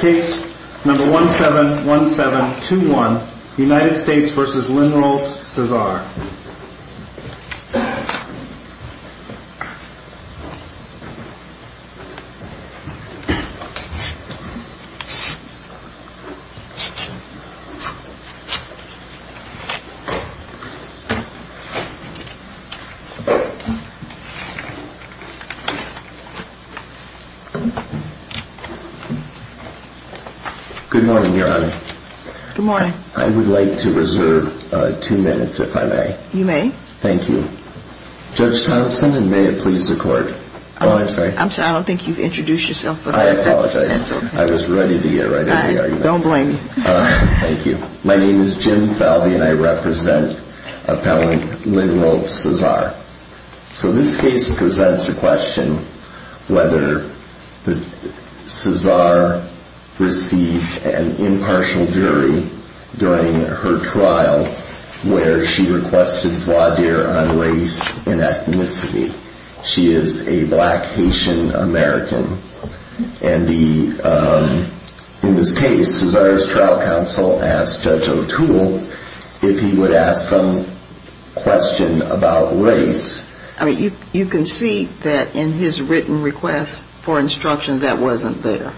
Case number 171721 United States v. Linroth-Cezaire Good morning, Your Honor. Good morning. I would like to reserve two minutes, if I may. You may. Thank you. Judge Thompson, and may it please the Court. I'm sorry, I don't think you've introduced yourself. I apologize. I was ready to get right into the argument. Don't blame me. Thank you. My name is Jim Falvey, and I represent Appellant Linroth-Cezaire. So this case presents a question whether Cezaire received an impartial jury during her trial where she requested voir dire on race and ethnicity. She is a black Haitian American. And in this case, Cezaire's trial counsel asked Judge O'Toole if he would ask some question about race. I mean, you concede that in his written request for instructions, that wasn't there.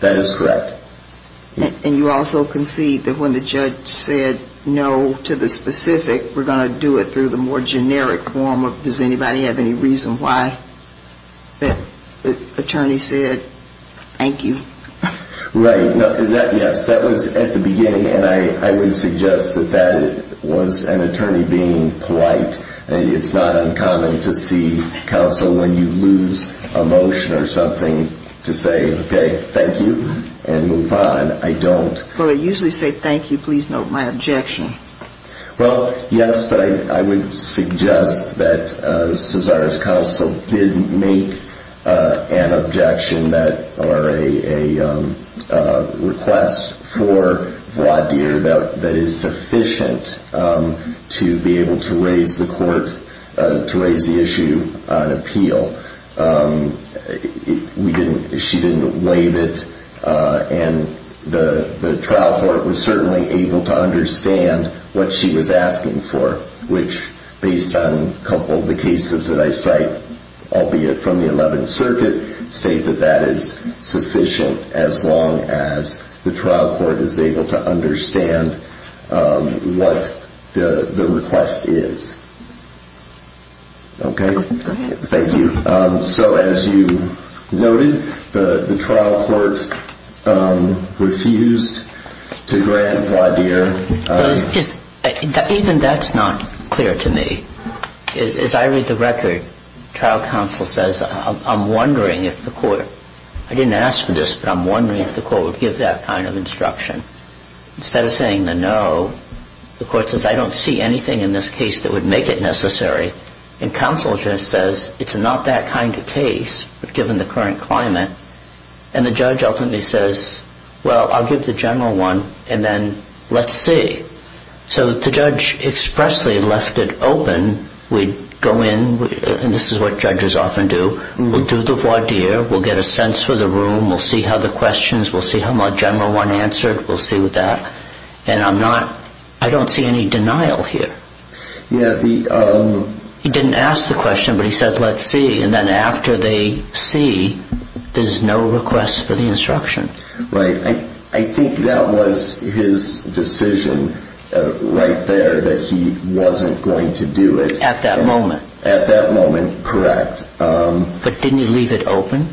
That is correct. And you also concede that when the judge said no to the specific, we're going to do it through the more generic form of, does anybody have any reason why the attorney said thank you? Right. Yes, that was at the beginning, and I would suggest that that was an attorney being polite. It's not uncommon to see counsel when you lose emotion or something to say, okay, thank you, and move on. I don't. Well, I usually say thank you. Please note my objection. Well, yes, but I would suggest that Cezaire's counsel did make an objection or a request for voir dire that is sufficient to be able to raise the issue on appeal. She didn't waive it, and the trial court was certainly able to understand what she was asking for, which based on a couple of the cases that I cite, albeit from the 11th Circuit, state that that is sufficient as long as the trial court is able to understand what the request is. Okay? Go ahead. Thank you. So as you noted, the trial court refused to grant voir dire. Even that's not clear to me. As I read the record, trial counsel says, I'm wondering if the court, I didn't ask for this, but I'm wondering if the court would give that kind of instruction. Instead of saying the no, the court says I don't see anything in this case that would make it necessary, and counsel just says it's not that kind of case given the current climate, and the judge ultimately says, well, I'll give the general one, and then let's see. So the judge expressly left it open. We'd go in, and this is what judges often do. We'll do the voir dire. We'll get a sense for the room. We'll see how the questions, we'll see how my general one answered. We'll see what that, and I'm not, I don't see any denial here. He didn't ask the question, but he said let's see, and then after the see, there's no request for the instruction. Right. I think that was his decision right there that he wasn't going to do it. At that moment. At that moment, correct. But didn't he leave it open?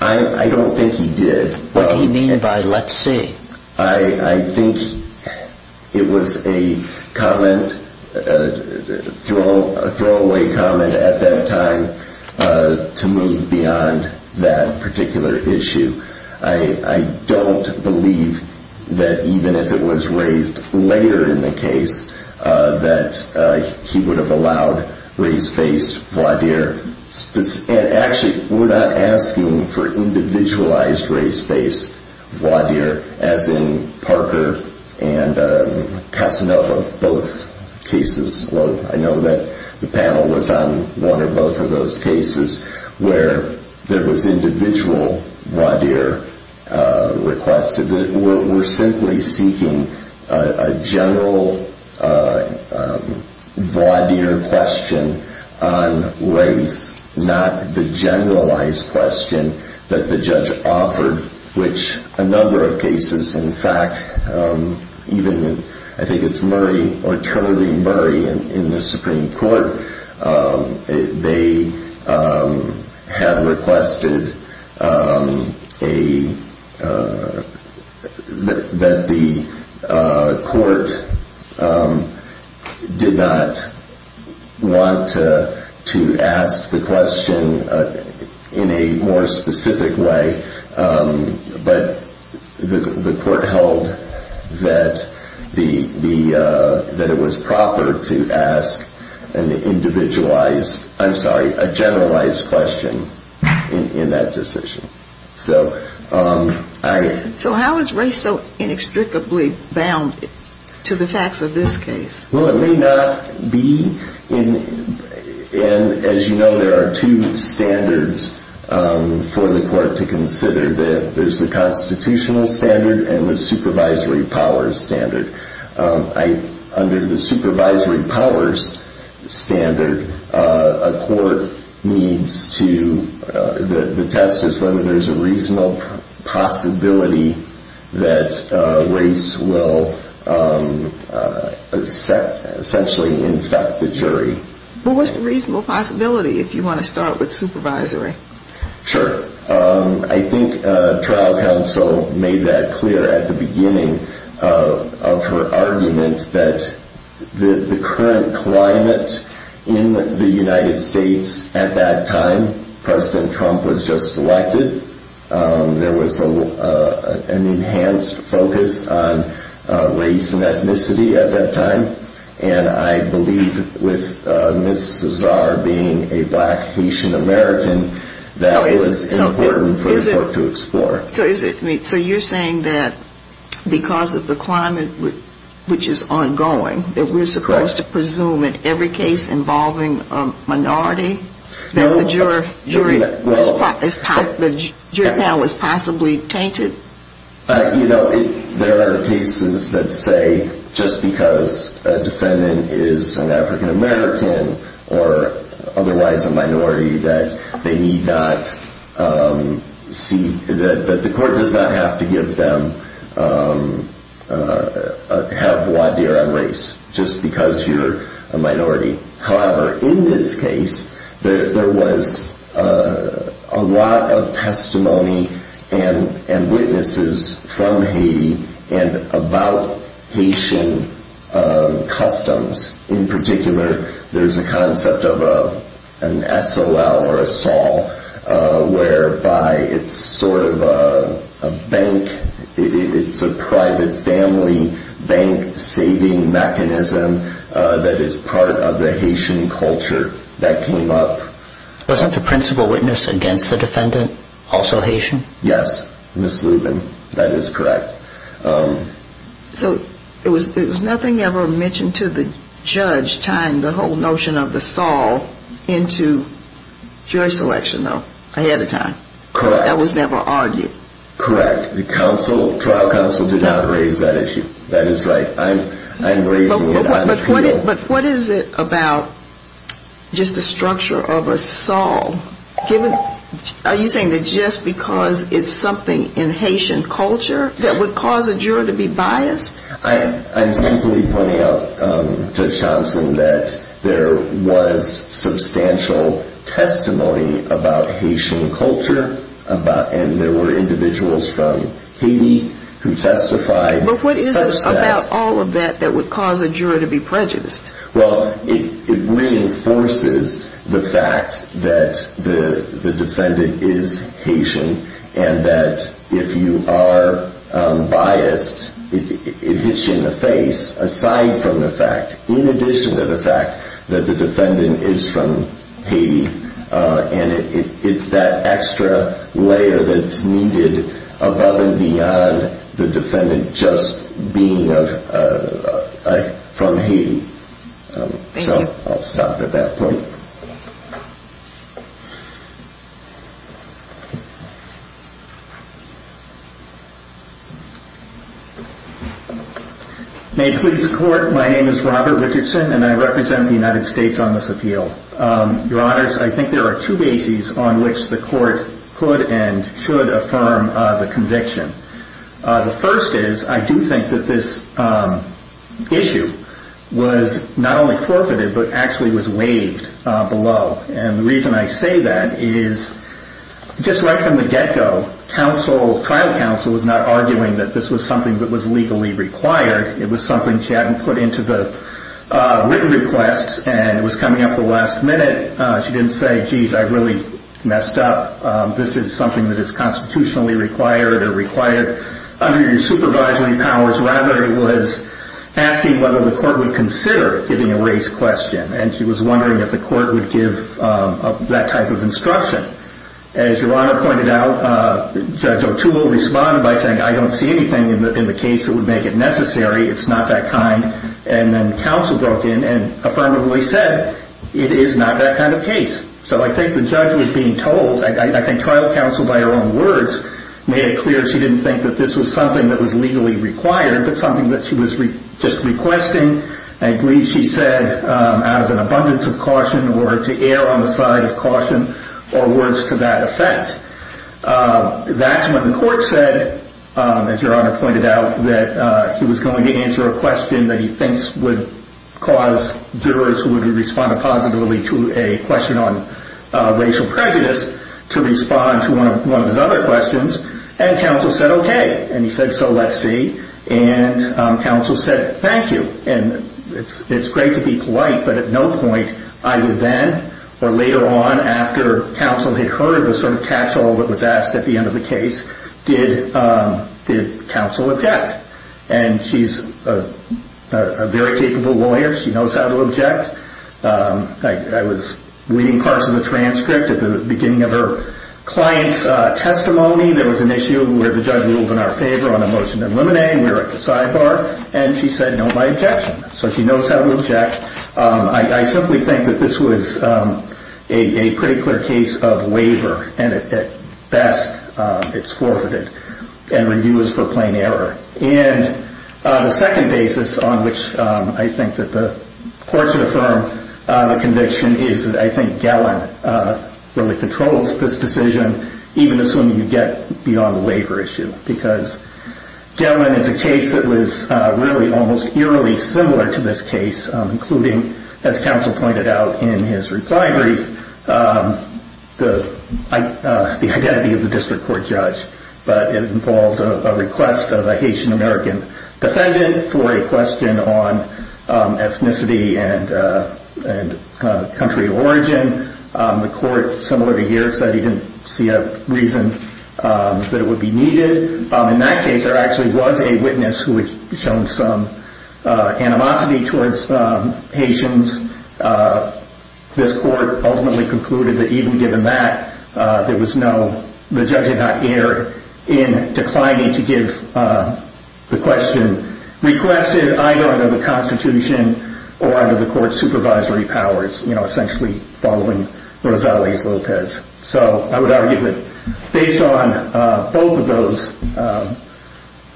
I don't think he did. What did he mean by let's see? I think it was a comment, a throwaway comment at that time to move beyond that particular issue. I don't believe that even if it was raised later in the case that he would have allowed raised face voir dire, and actually we're not asking for individualized raised face voir dire, as in Parker and Casanova, both cases. I know that the panel was on one or both of those cases where there was individual voir dire requested. We're simply seeking a general voir dire question on race, not the generalized question that the judge offered, which a number of cases, in fact, even I think it's Murray or Trudy Murray in the Supreme Court, they had requested that the court did not want to ask the question in a more specific way, but the court held that it was proper to ask an individualized, I'm sorry, a generalized question in that decision. So how is race so inextricably bound to the facts of this case? Well, it may not be, and as you know, there are two standards for the court to consider. There's the constitutional standard and the supervisory powers standard. Under the supervisory powers standard, a court needs to, the test is whether there's a reasonable possibility that race will essentially infect the jury. Well, what's the reasonable possibility if you want to start with supervisory? Sure. I think trial counsel made that clear at the beginning of her argument that the current climate in the United States at that time, President Trump was just elected, there was an enhanced focus on race and ethnicity at that time, and I believe with Ms. Cesar being a black Haitian American, that was important for the court to explore. So you're saying that because of the climate, which is ongoing, that we're supposed to presume in every case involving a minority that the jury was possibly tainted? You know, there are cases that say just because a defendant is an African American or otherwise a minority that they need not see, that the court does not have to give them, have voir dire on race just because you're a minority. However, in this case, there was a lot of testimony and witnesses from Haiti and about Haitian customs. In particular, there's a concept of an SOL or a SOL whereby it's sort of a bank, it's a private family bank saving mechanism that is part of the Haitian culture that came up. Wasn't the principal witness against the defendant also Haitian? Yes, Ms. Lubin, that is correct. So it was nothing ever mentioned to the judge tying the whole notion of the SOL into jury selection, though, ahead of time? Correct. That was never argued? Correct. The trial counsel did not raise that issue. That is right. But what is it about just the structure of a SOL? Are you saying that just because it's something in Haitian culture that would cause a juror to be biased? I'm simply pointing out, Judge Thompson, that there was substantial testimony about Haitian culture and there were individuals from Haiti who testified. But what is it about all of that that would cause a juror to be prejudiced? Well, it reinforces the fact that the defendant is Haitian and that if you are biased, it hits you in the face, aside from the fact, in addition to the fact that the defendant is from Haiti, and it's that extra layer that's needed above and beyond the defendant just being from Haiti. Thank you. So I'll stop at that point. May it please the Court, my name is Robert Richardson and I represent the United States on this appeal. Your Honors, I think there are two bases on which the Court could and should affirm the conviction. The first is I do think that this issue was not only forfeited but actually was waived below. And the reason I say that is just right from the get-go, trial counsel was not arguing that this was something that was legally required. It was something she hadn't put into the written requests and it was coming up at the last minute. She didn't say, geez, I really messed up. This is something that is constitutionally required or required under your supervisory powers. Rather, it was asking whether the Court would consider giving a race question and she was wondering if the Court would give that type of instruction. As Your Honor pointed out, Judge O'Toole responded by saying I don't see anything in the case that would make it necessary. It's not that kind. And then counsel broke in and affirmatively said it is not that kind of case. So I think the judge was being told, I think trial counsel by her own words, made it clear she didn't think that this was something that was legally required but something that she was just requesting. I believe she said out of an abundance of caution or to err on the side of caution or words to that effect. That's when the Court said, as Your Honor pointed out, that he was going to answer a question that he thinks would cause jurors who would respond positively to a question on racial prejudice to respond to one of his other questions. And counsel said, okay. And he said, so let's see. And counsel said, thank you. And it's great to be polite, but at no point either then or later on after counsel had heard the sort of catch-all that was asked at the end of the case did counsel object. And she's a very capable lawyer. She knows how to object. I was reading parts of the transcript at the beginning of her client's testimony. There was an issue where the judge ruled in our favor on a motion to eliminate. We were at the sidebar, and she said no to my objection. So she knows how to object. I simply think that this was a pretty clear case of waiver, and at best it's forfeited and renewed for plain error. And the second basis on which I think that the Court should affirm the conviction is that I think Gellin really controls this decision, even assuming you get beyond the waiver issue, because Gellin is a case that was really almost eerily similar to this case, including, as counsel pointed out in his reply brief, the identity of the district court judge. But it involved a request of a Haitian-American defendant for a question on ethnicity and country of origin. The Court, similar to here, said he didn't see a reason that it would be needed. In that case, there actually was a witness who had shown some animosity towards Haitians. This Court ultimately concluded that even given that, the judge had not erred in declining to give the question requested, either under the Constitution or under the Court's supervisory powers, essentially following Rosales-Lopez. So I would argue that based on both of those,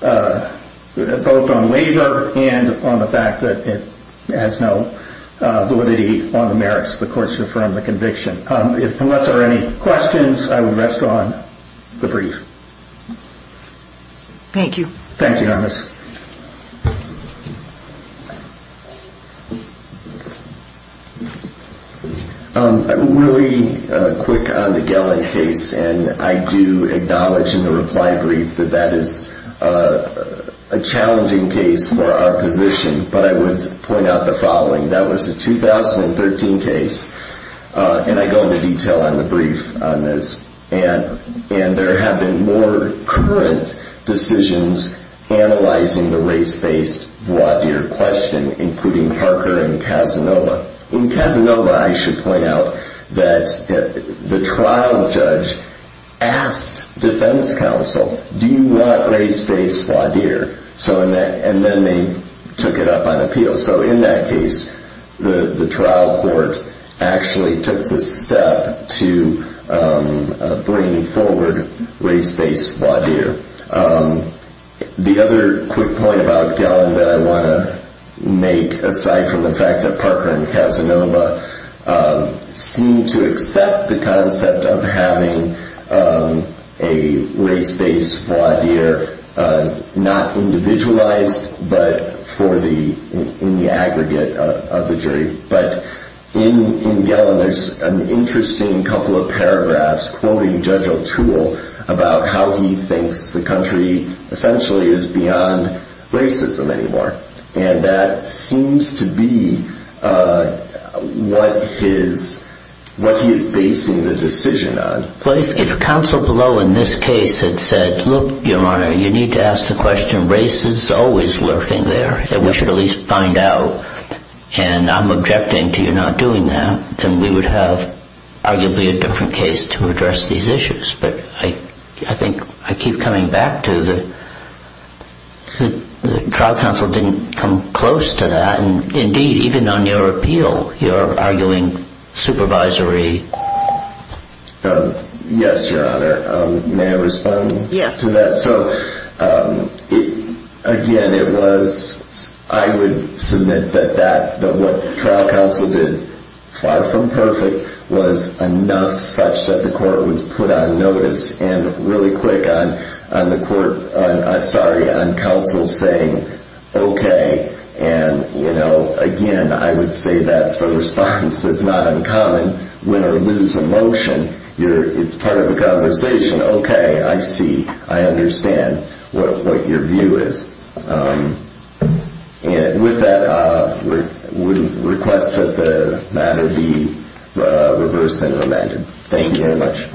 both on waiver and on the fact that it has no validity on the merits, the Court should affirm the conviction. Unless there are any questions, I will rest on the brief. Thank you. Thank you, Nermis. Next. Really quick on the Gelling case, and I do acknowledge in the reply brief that that is a challenging case for our position, but I would point out the following. That was a 2013 case, and I go into detail on the brief on this. There have been more current decisions analyzing the race-based voir dire question, including Parker and Casanova. In Casanova, I should point out that the trial judge asked defense counsel, do you want race-based voir dire? And then they took it up on appeal. So in that case, the trial court actually took the step to bring forward race-based voir dire. The other quick point about Gelling that I want to make, aside from the fact that Parker and Casanova seem to accept the concept of having a race-based voir dire, not individualized, but in the aggregate of the jury. But in Gelling, there's an interesting couple of paragraphs quoting Judge O'Toole about how he thinks the country essentially is beyond racism anymore. And that seems to be what he is basing the decision on. Well, if counsel below in this case had said, look, Your Honor, you need to ask the question, race is always lurking there, and we should at least find out, and I'm objecting to your not doing that, then we would have arguably a different case to address these issues. But I think I keep coming back to the trial counsel didn't come close to that. Indeed, even on your appeal, you're arguing supervisory. Yes, Your Honor. May I respond to that? Yes. So again, it was, I would submit that what trial counsel did, far from perfect, was enough such that the court was put on notice and really quick on the court, sorry, on counsel saying, okay, and, you know, again, I would say that's a response that's not uncommon. Win or lose a motion, it's part of a conversation. Okay, I see. I understand what your view is. And with that, we request that the matter be reversed and amended. Thank you very much.